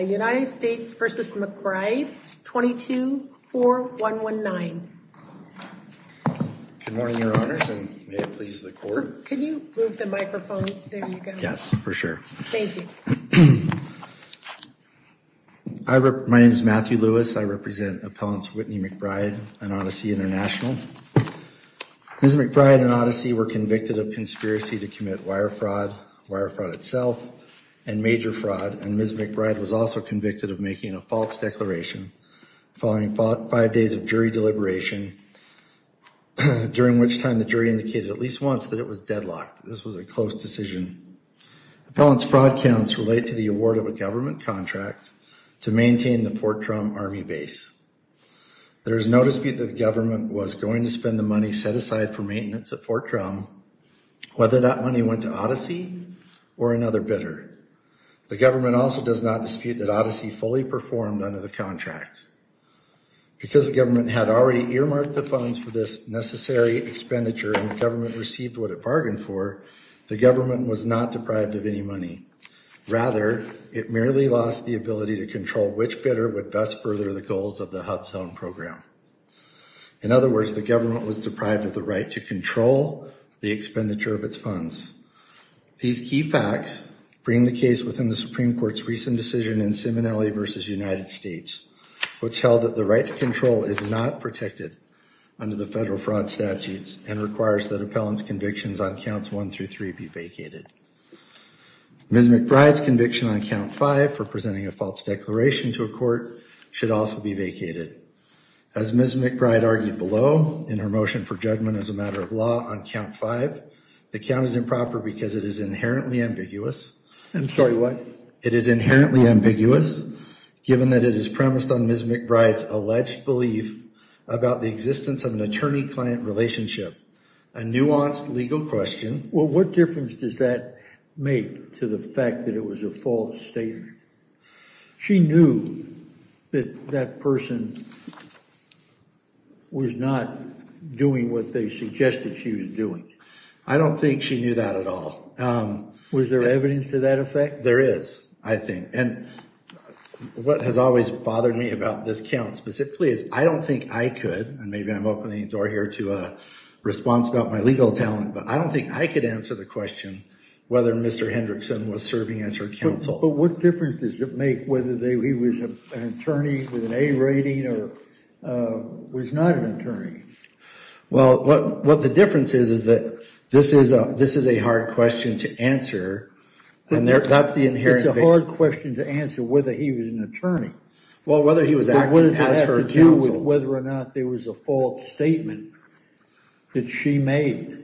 United States v. McBride, 22-4-119. Good morning, Your Honors, and may it please the Court. Can you move the microphone? There you go. Yes, for sure. Thank you. My name is Matthew Lewis. I represent Appellants Whitney McBride and Odyssey International. Ms. McBride and Odyssey were convicted of conspiracy to commit wire fraud, wire fraud itself, and major fraud, and Ms. McBride was also convicted of making a false declaration following five days of jury deliberation, during which time the jury indicated at least once that it was deadlocked. This was a close decision. Appellants' fraud counts relate to the award of a government contract to maintain the Fort Drum Army Base. There is no dispute that the government was going to spend the money set aside for maintenance at Fort Drum, whether that money went to Odyssey or another bidder. The government also does not dispute that Odyssey fully performed under the contract. Because the government had already earmarked the funds for this necessary expenditure and the government received what it bargained for, the government was not deprived of any money. Rather, it merely lost the ability to control which bidder would best further the goals of the HUBZone program. In other words, the government was deprived of the right to control the expenditure of its funds. These key facts bring the case within the Supreme Court's recent decision in Simonelli v. United States, which held that the right to control is not protected under the federal fraud statutes and requires that appellants' convictions on counts 1 through 3 be vacated. Ms. McBride's conviction on count 5 for presenting a false declaration to a court should also be vacated. As Ms. McBride argued below in her motion for judgment as a matter of law on count 5, the count is improper because it is inherently ambiguous. I'm sorry, what? It is inherently ambiguous given that it is premised on Ms. McBride's alleged belief about the existence of an attorney-client relationship. A nuanced legal question. Well, what difference does that make to the fact that it was a false statement? She knew that that person was not doing what they suggested she was doing. I don't think she knew that at all. Was there evidence to that effect? There is, I think. And what has always bothered me about this count specifically is I don't think I could, and maybe I'm opening the door here to a response about my legal talent, but I don't think I could answer the question whether Mr. Hendrickson was serving as her counsel. But what difference does it make whether he was an attorney with an A rating or was not an attorney? Well, what the difference is, is that this is a hard question to answer. And that's the inherent thing. It's a hard question to answer whether he was an attorney. Well, whether he was acting as her counsel. But what does that have to do with whether or not there was a false statement that she made?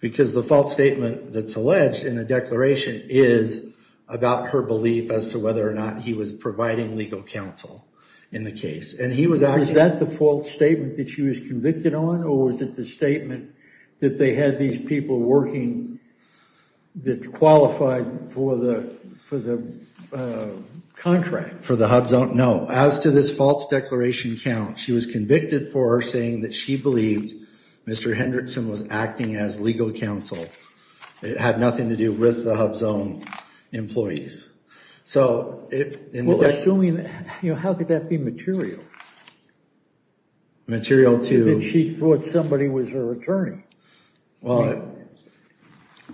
Because the false statement that's alleged in the declaration is about her belief as to whether or not he was providing legal counsel in the case. And he was acting... Was that the false statement that she was convicted on or was it the statement that they had these people working that qualified for the contract? For the HUBZone? No. As to this false declaration count, she was convicted for her saying that she believed Mr. Hendrickson was acting as legal counsel. It had nothing to do with the HUBZone employees. So assuming that, you know, how could that be material? Material to... She thought somebody was her attorney. Well,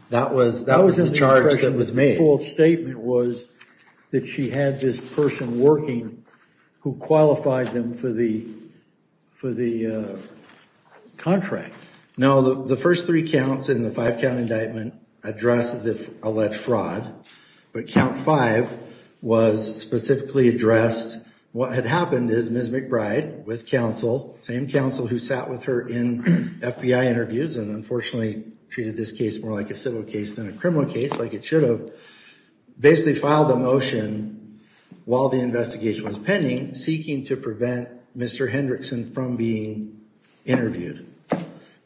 that was the charge that was made. The false statement was that she had this person working who qualified them for the contract. Now, the first three counts in the five-count indictment address the alleged fraud, but count five was specifically addressed. What had happened is Ms. McBride with counsel, same counsel who sat with her in FBI interviews and unfortunately treated this case more like a civil case than a criminal case, like it should have. Basically filed a motion while the investigation was pending seeking to prevent Mr. Hendrickson from being interviewed.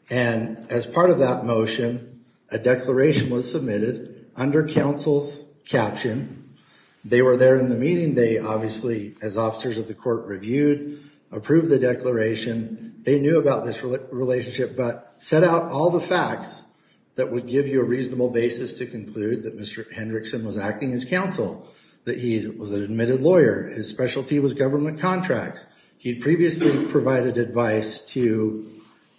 And as part of that motion, a declaration was submitted under counsel's caption. They were there in the meeting. They obviously, as officers of the court, reviewed, approved the declaration. They knew about this relationship, but set out all the facts that would give you a reasonable basis to conclude that Mr. Hendrickson was acting as counsel, that he was an admitted lawyer. His specialty was government contracts. He previously provided advice to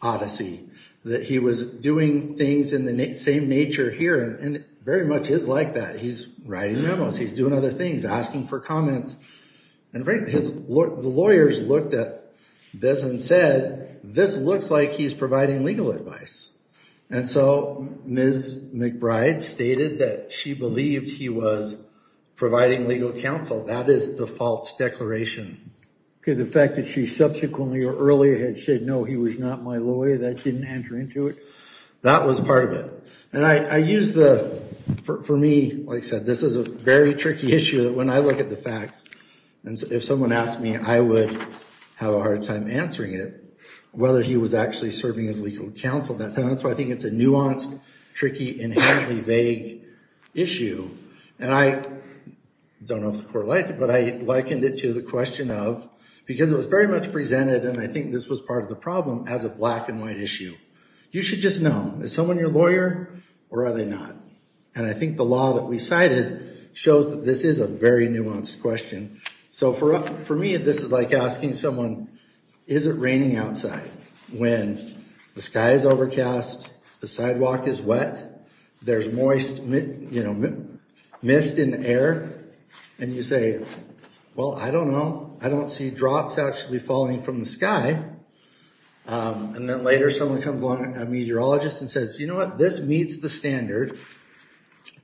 Odyssey that he was doing things in the same nature here and very much is like that. He's writing memos. He's doing other things, asking for comments. And the lawyers looked at this and said, this looks like he's providing legal advice. And so Ms. McBride stated that she believed he was providing legal counsel. That is the false declaration. Okay. The fact that she subsequently or earlier had said, no, he was not my lawyer. That didn't enter into it. That was part of it. And I use the, for me, like I said, this is a very tricky issue that when I look at the facts, and if someone asked me, I would have a hard time answering it, whether he was actually serving as legal counsel at that time. That's why I think it's a nuanced, tricky, inherently vague issue. And I don't know if the court liked it, but I likened it to the question of, because it was very much presented, and I think this was part of the problem, as a black and white issue, you should just know, is someone your lawyer or are they not? And I think the law that we cited shows that this is a very nuanced question. So for me, this is like asking someone, is it raining outside when the sky is overcast, the sidewalk is wet, there's moist, you know, mist in the air, and you say, well, I don't know. I don't see drops actually falling from the sky. And then later someone comes along, a meteorologist, and says, you know what, this meets the standard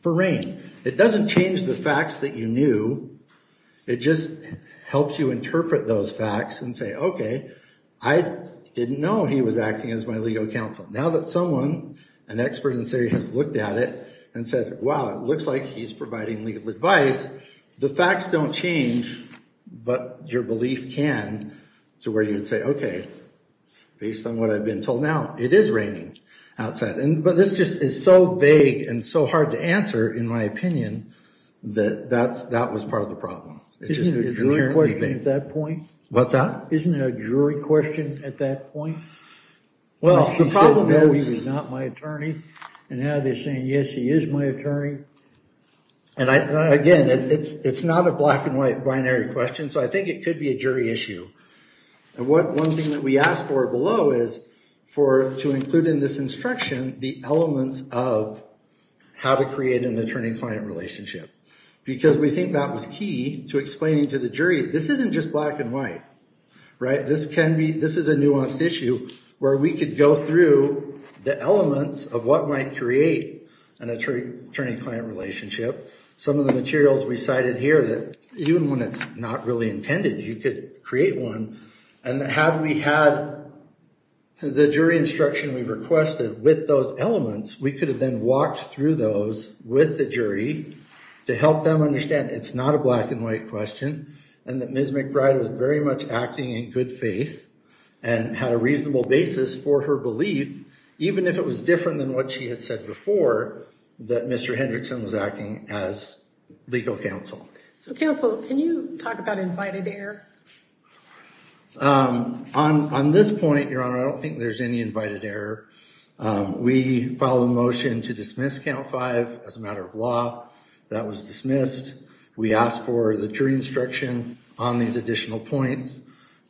for rain. It doesn't change the facts that you knew. It just helps you interpret those facts and say, okay, I didn't know he was acting as my legal counsel. Now that someone, an expert in this area, has looked at it and said, wow, it looks like he's providing legal advice, the facts don't change, but your belief can, to where you would say, okay, based on what I've been told now, it is raining outside. And, but this just is so vague and so hard to answer, in my opinion, that that was part of the problem. Isn't it a jury question at that point? What's that? Isn't it a jury question at that point? Well, the problem is, he's not my attorney, and now they're saying, yes, he is my attorney. And I, again, it's not a black and white binary question. So I think it could be a jury issue. And what one thing that we asked for below is for, to include in this instruction, the elements of how to create an attorney-client relationship. Because we think that was key to explaining to the jury, this isn't just black and white, right? This can be, this is a nuanced issue, where we could go through the elements of what might create an attorney-client relationship. Some of the materials we cited here that, even when it's not really intended, you could create one. And had we had the jury instruction we requested with those elements, we could have then walked through those with the jury to help them understand it's not a black and white question, and that Ms. McBride was very much acting in good faith and had a reasonable basis for her belief, even if it was different than what she had said before, that Mr. Hendrickson was acting as legal counsel. So counsel, can you talk about invited error? On this point, Your Honor, I don't think there's any invited error. We filed a motion to dismiss count five as a matter of law. That was dismissed. We asked for the jury instruction on these additional points,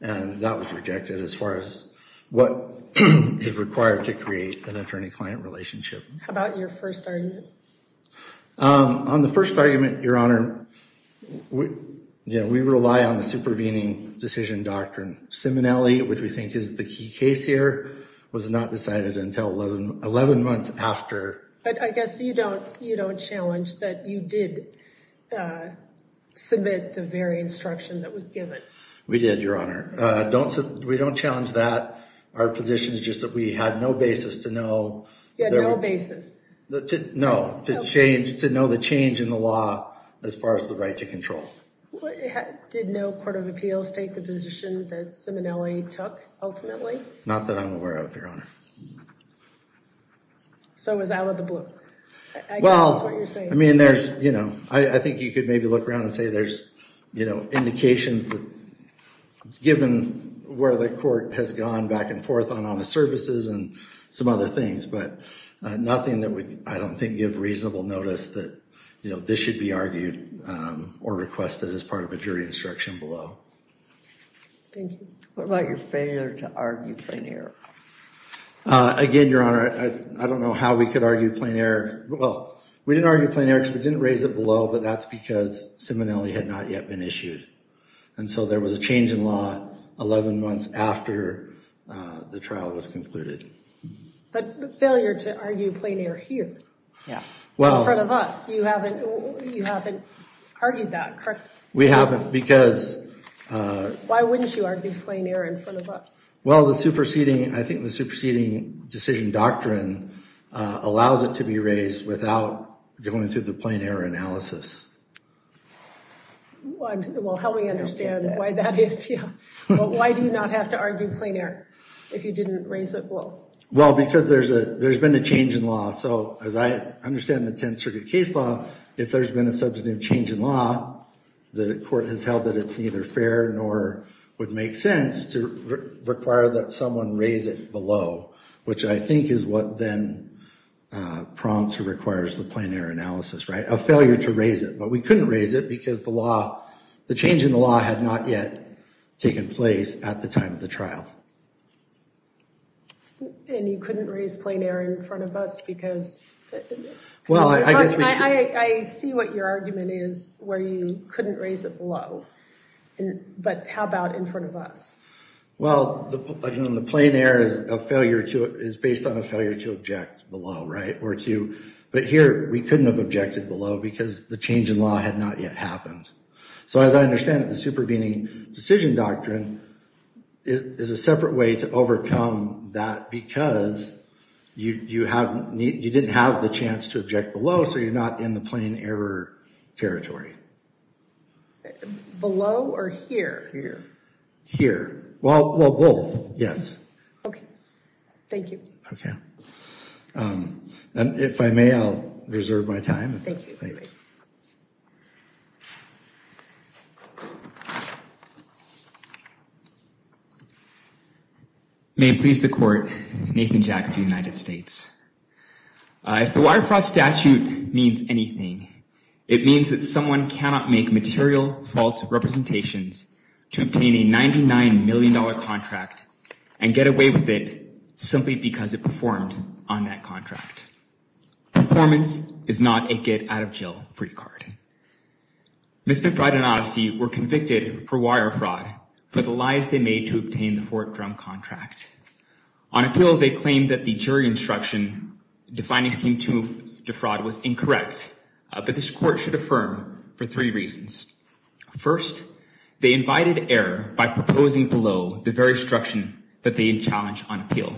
and that was rejected as far as what is required to create an attorney-client relationship. How about your first argument? On the first argument, Your Honor, we rely on the supervening decision doctrine. Simonelli, which we think is the key case here, was not decided until 11 months after. But I guess you don't challenge that you did submit the very instruction that was given. We did, Your Honor. We don't challenge that. Our position is just that we had no basis to know. You had no basis? No, to know the change in the law as far as the right to control. Did no court of appeals take the position that Simonelli took ultimately? Not that I'm aware of, Your Honor. So it was out of the blue. Well, I mean, there's, you know, I think you could maybe look around and say there's, you know, indications that given where the court has gone back and forth on honest services and some other things, but nothing that would, I don't think, give reasonable notice that, you know, this should be argued or requested as part of a jury instruction below. Thank you. What about your failure to argue plain error? Again, Your Honor, I don't know how we could argue plain error. Well, we didn't argue plain error because we didn't raise it below, but that's because Simonelli had not yet been issued. And so there was a change in law 11 months after the trial was concluded. But failure to argue plain error here, in front of us, you haven't argued that, correct? We haven't because... Why wouldn't you argue plain error in front of us? Well, the superseding, I think the superseding decision doctrine allows it to be raised without going through the plain error analysis. Well, help me understand why that is, yeah. Why do you not have to argue plain error if you didn't raise it below? Well, because there's a, there's been a change in law. So as I understand the Tenth Circuit case law, if there's been a substantive change in law, the court has held that it's neither fair nor would make sense to require that someone raise it below, which I think is what then prompts or requires the plain error analysis, right? A failure to raise it, but we couldn't raise it because the law, the change in the law had not yet taken place at the time of the trial. And you couldn't raise plain error in front of us because... Well, I guess... I see what your argument is, where you couldn't raise it below, but how about in front of us? Well, the plain error is a failure to, is based on a failure to object below, right? Or to, but here we couldn't have objected below because the change in law had not yet happened. So as I understand it, the supervening decision doctrine is a separate way to overcome that because you haven't, you didn't have the chance to object below. So you're not in the plain error territory. Below or here? Here. Here. Well, well, both. Yes. Okay. Thank you. Okay. And if I may, I'll reserve my time. Thank you. Thanks. May it please the Court, Nathan Jack of the United States. If the Waterfront Statute means anything, it means that someone cannot make material false representations to obtain a $99 million contract and get away with it simply because it performed on that contract. Performance is not a get-out-of-jail-free card. Ms. McBride and Odyssey were convicted for wire fraud for the lies they made to obtain the Fort Drum contract. On appeal, they claimed that the jury instruction defining scheme two defraud was incorrect, but this Court should affirm for three reasons. First, they invited error by proposing below the very instruction that they had challenged on appeal.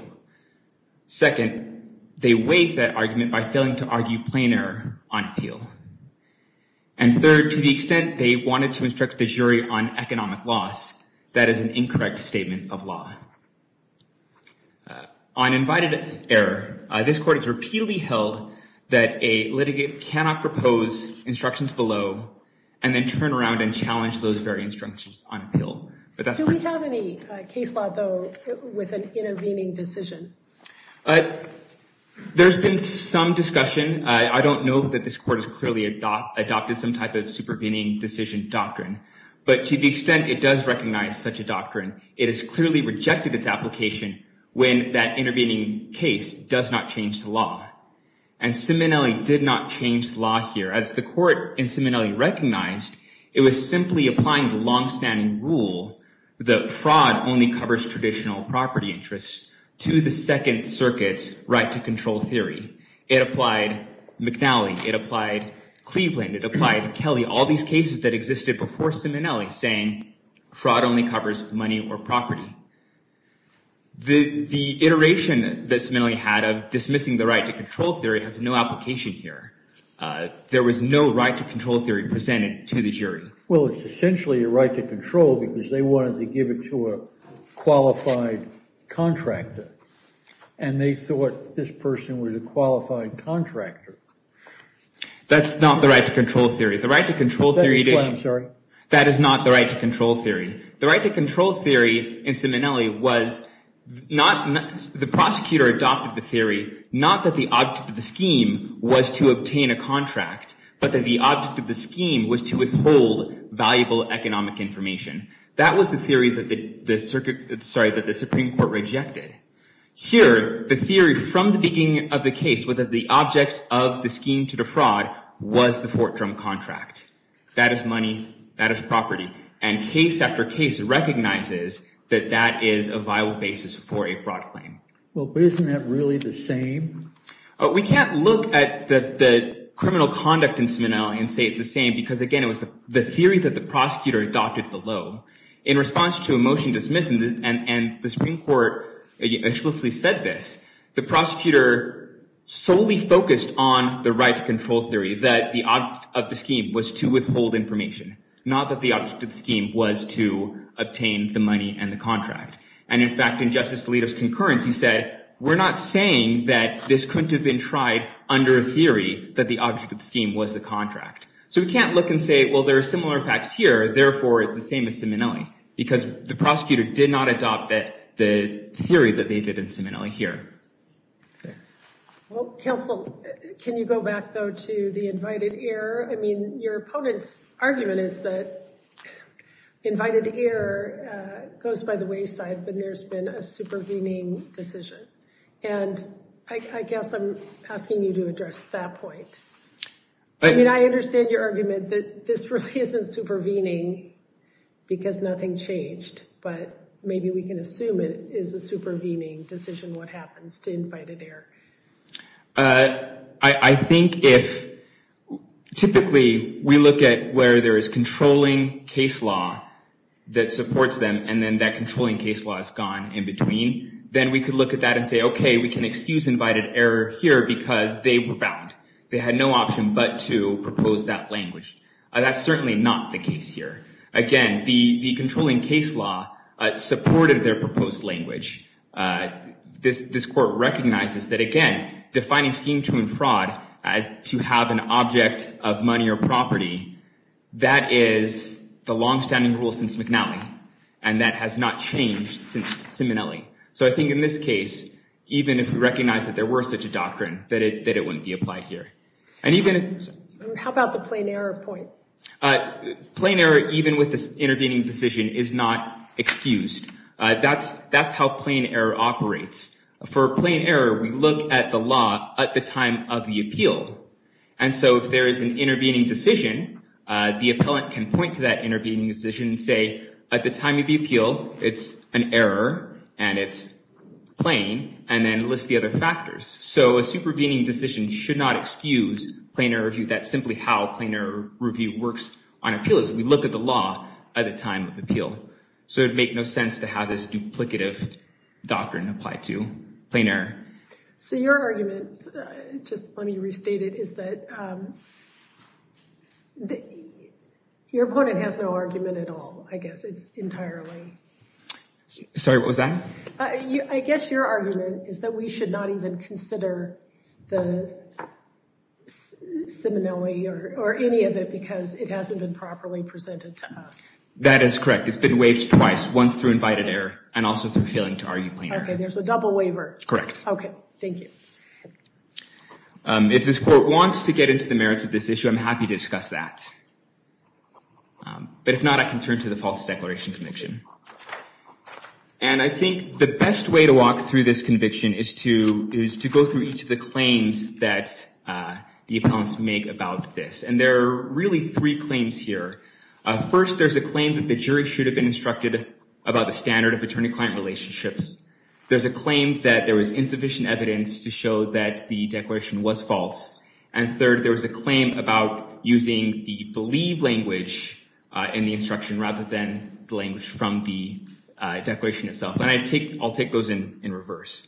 Second, they weighed that argument by failing to argue plain error on appeal. And third, to the extent they wanted to instruct the jury on economic loss, that is an incorrect statement of law. On invited error, this Court has repeatedly held that a litigate cannot propose instructions below and then turn around and challenge those very instructions on appeal. Do we have any case law, though, with an intervening decision? There's been some discussion. I don't know that this Court has clearly adopted some type of supervening decision doctrine, but to the extent it does recognize such a doctrine, it has clearly rejected its application when that intervening case does not change the law. And Simonelli did not change the law here. As the Court in Simonelli recognized, it was simply applying the long-standing rule that fraud only covers traditional property interests to the Second Circuit's right-to-control theory. It applied McNally. It applied Cleveland. It applied Kelly. All these cases that existed before Simonelli saying fraud only covers money or property. The iteration that Simonelli had of dismissing the right-to-control theory has no application here. There was no right-to-control theory presented to the jury. Well, it's essentially a right-to-control because they wanted to give it to a qualified contractor and they thought this person was a qualified contractor. That's not the right-to-control theory. The right-to-control theory. I'm sorry. That is not the right-to-control theory. The right-to-control theory in Simonelli was not the prosecutor adopted the theory, not that the object of the scheme was to obtain a contract, but that the object of the scheme was to withhold valuable economic information. That was the theory that the circuit, sorry, that the Supreme Court rejected. Here, the theory from the beginning of the case was that the object of the scheme to defraud was the Fort Drum contract. That is money. That is property and case after case recognizes that that is a viable basis for a fraud claim. Well, but isn't that really the same? We can't look at the criminal conduct in Simonelli and say it's the same because again, it was the theory that the prosecutor adopted below. In response to a motion dismissal, and the Supreme Court explicitly said this, the prosecutor solely focused on the right-to-control theory that the object of the scheme was to withhold information, not that the object of the scheme was to obtain the money and the contract. And in fact, in Justice Alito's concurrence, he said, we're not saying that this couldn't have been tried under a theory that the object of the scheme was the contract. So we can't look and say, well, there are similar facts here. Therefore, it's the same as Simonelli, because the prosecutor did not adopt the theory that they did in Simonelli here. Well, counsel, can you go back though to the invited error? I mean, your opponent's argument is that invited error goes by the wayside when there's been a supervening decision. And I guess I'm asking you to address that point. I mean, I understand your argument that this really isn't supervening because nothing changed, but maybe we can assume it is a supervening decision what happens to invited error. I think if typically we look at where there is controlling case law that supports them and then that controlling case law is gone in between, then we could look at that and say, okay, we can excuse invited error here because they were bound. They had no option but to propose that language. That's certainly not the case here. Again, the controlling case law supported their proposed language. This court recognizes that, again, defining scheme to and fraud as to have an object of money or property, that is the longstanding rule since McNally, and that has not changed since Simonelli. So I think in this case, even if we recognize that there were such a doctrine, that it wouldn't be applied here. How about the plain error point? Plain error, even with this intervening decision, is not excused. That's how plain error operates. For plain error, we look at the law at the time of the appeal. And so if there is an intervening decision, the appellant can point to that intervening decision and say, at the time of the appeal, it's an error and it's plain, and then list the other factors. So a supervening decision should not excuse plain error review. That's simply how plain error review works on appeal, is we look at the law at the time of appeal. So it would make no sense to have this duplicative doctrine applied to plain error. So your argument, just let me restate it, is that your opponent has no argument at all. I guess it's entirely. Sorry, what was that? I guess your argument is that we should not even consider the simonelli or any of it because it hasn't been properly presented to us. That is correct. It's been waived twice, once through invited error and also through failing to argue plain error. Okay, there's a double waiver. Correct. Okay. Thank you. If this Court wants to get into the merits of this issue, I'm happy to discuss that. But if not, I can turn to the False Declaration Conviction. And I think the best way to walk through this conviction is to go through each of the claims that the appellants make about this. And there are really three claims here. First, there's a claim that the jury should have been instructed about the standard of attorney-client relationships. There's a claim that there was insufficient evidence to show that the declaration was false. And third, there was a claim about using the believe language in the instruction rather than the language from the declaration itself. And I'll take those in reverse.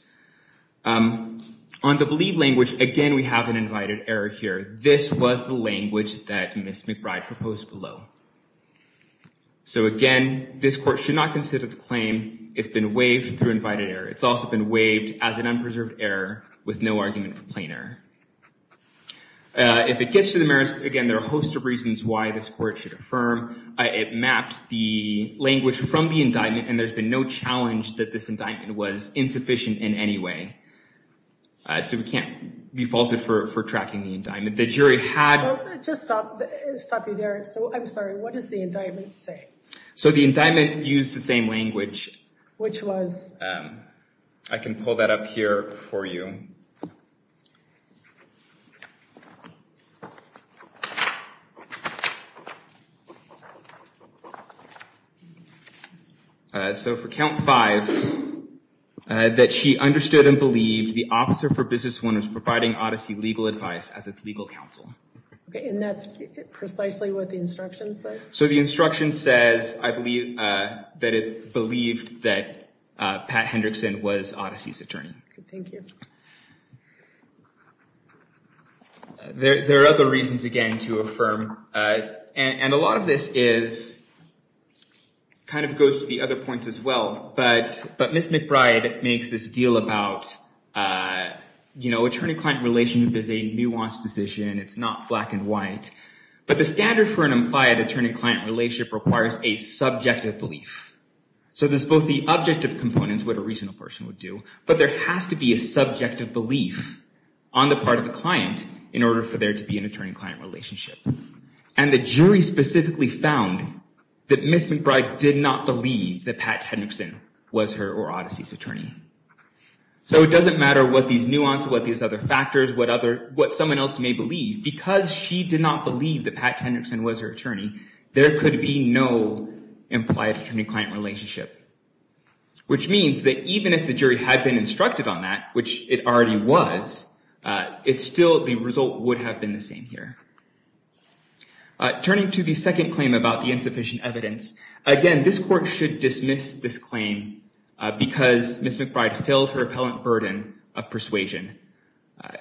On the believe language, again, we have an invited error here. This was the language that Ms. McBride proposed below. So again, this Court should not consider the claim, it's been waived through invited error. It's also been waived as an unpreserved error with no argument for plain error. If it gets to the merits, again, there are a host of reasons why this Court should affirm. It maps the language from the indictment and there's been no challenge that this indictment was insufficient in any way. So we can't be faulted for tracking the indictment. The jury had... Just stop you there. So I'm sorry. What does the indictment say? So the indictment used the same language. Which was... I can pull that up here for you. So for count five, that she understood and believed the officer for business one was providing Odyssey legal advice as its legal counsel. Okay, and that's precisely what the instruction says? So the instruction says, I believe, that it believed that Pat Hendrickson was Odyssey's attorney. Thank you. There are other reasons, again, to affirm. And a lot of this is, kind of goes to the other points as well, but Miss McBride makes this deal about, you know, attorney-client relationship is a nuanced decision. It's not black and white, but the standard for an implied attorney-client relationship requires a subjective belief. So there's both the objective components, what a reasonable person would do, but there has to be a subjective belief on the part of the client in order for there to be an attorney- And the jury specifically found that Miss McBride did not believe that Pat Hendrickson was her or Odyssey's attorney. So it doesn't matter what these nuances, what these other factors, what other, what someone else may believe, because she did not believe that Pat Hendrickson was her attorney, there could be no implied attorney-client relationship. Which means that even if the jury had been instructed on that, which it already was, it's still, the result would have been the same here. Turning to the second claim about the insufficient evidence, again, this court should dismiss this claim because Miss McBride feels her appellant burden of persuasion.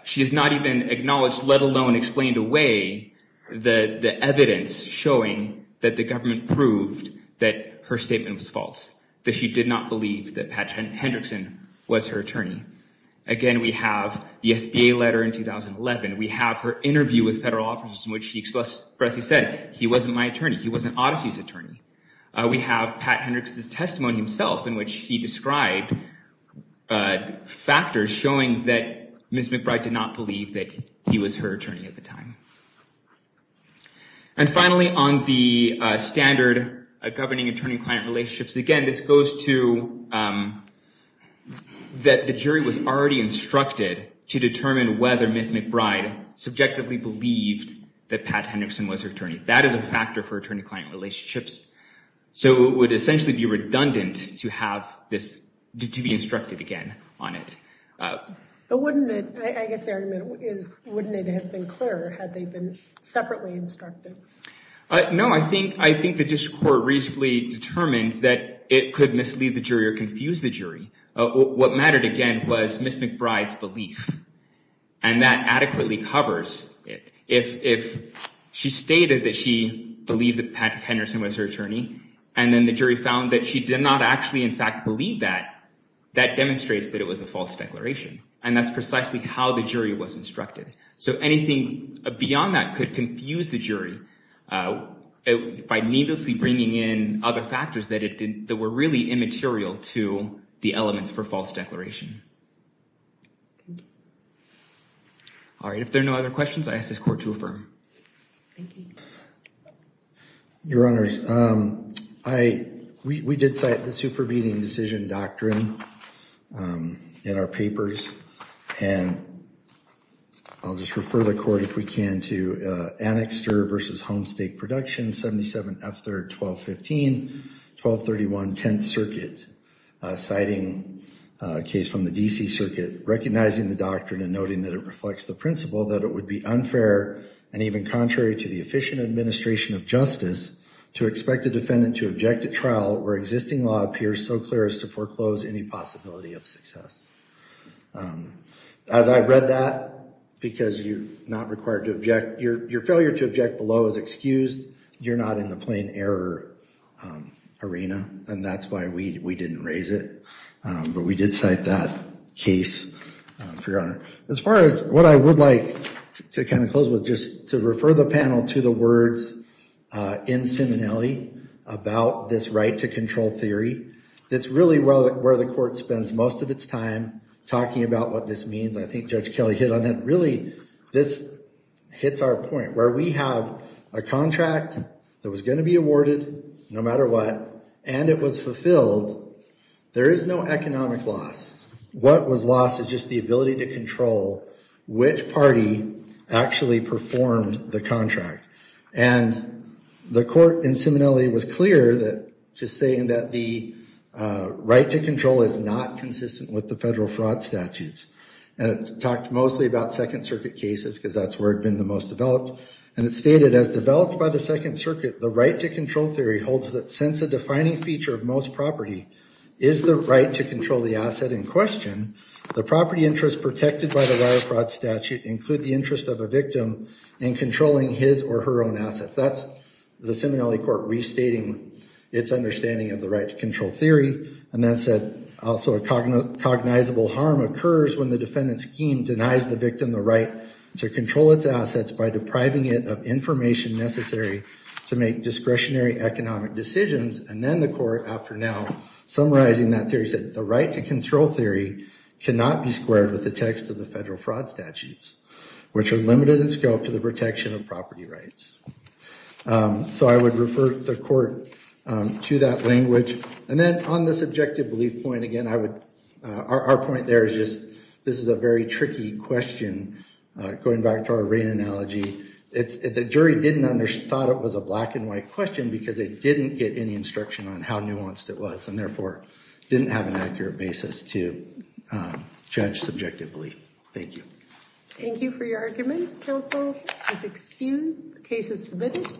She has not even acknowledged, let alone explained away the evidence showing that the government proved that her statement was false, that she did not believe that Pat Hendrickson was her attorney. Again, we have the SBA letter in 2011. We have her interview with federal officers in which she expressly said, he wasn't my attorney. He wasn't Odyssey's attorney. We have Pat Hendrickson's testimony himself in which he described factors showing that Miss McBride did not believe that he was her attorney at the time. And finally, on the standard governing attorney-client relationships, again, this goes to that the jury was already instructed to determine whether Miss McBride subjectively believed that Pat Hendrickson was her attorney. That is a factor for attorney-client relationships. So it would essentially be redundant to have this, to be instructed again on it. But wouldn't it, I guess the argument is, wouldn't it have been clearer had they been separately instructed? No, I think, I think the district court reasonably determined that it could mislead the jury or confuse the jury. What mattered again was Miss McBride's belief and that adequately covers it. If she stated that she believed that Pat Hendrickson was her attorney and then the jury found that she did not actually in fact believe that, that demonstrates that it was a false declaration and that's precisely how the jury was instructed. So anything beyond that could confuse the jury by needlessly bringing in other factors that were really immaterial to the elements for false declaration. All right, if there are no other questions, I ask this court to affirm. Your Honors, I, we did cite the supervening decision doctrine in our papers and I'll just refer the court if we can to Annexter versus Homestake Production, 77 F. 3rd, 1215, 1231, 10th As I read that, because you're not required to object, your failure to object below is excused. You're not in the plain error arena and that's why we didn't raise it, but we did cite that case, your Honor. As far as what I would like to kind of close with just to refer the panel to the words in Simonelli about this right to control theory, that's really where the court spends most of its time talking about what this means. I think Judge Kelly hit on that. Really, this hits our point where we have a contract that was going to be awarded no matter what and it was fulfilled. There is no economic loss. What was lost is just the ability to control which party actually performed the contract and the court in Simonelli was clear that just saying that the right to control is not consistent with the federal fraud statutes and it talked mostly about Second Circuit cases because that's where it's been the most developed and it stated as developed by the Second Circuit the right to control theory holds that since a defining feature of most property is the right to control the asset in question the property interest protected by the wire fraud statute include the interest of a victim in controlling his or her own assets. That's the Simonelli court restating its understanding of the right to control theory and that said also a cognizable harm occurs when the defendant's scheme denies the victim the right to control its assets by depriving it of information necessary to make discretionary economic decisions and then the court after now summarizing that theory said the right to control theory cannot be squared with the text of the federal fraud statutes which are limited in scope to the protection of property rights. So I would refer the court to that language and then on this objective belief point again, I would our point there is just this is a very tricky question going back to our rain analogy. It's the jury didn't under thought it was a black and white question because it didn't get any instruction on how nuanced it was and therefore didn't have an accurate basis to judge subjective belief. Thank you. Thank you for your arguments. Counsel is excused. Case is submitted.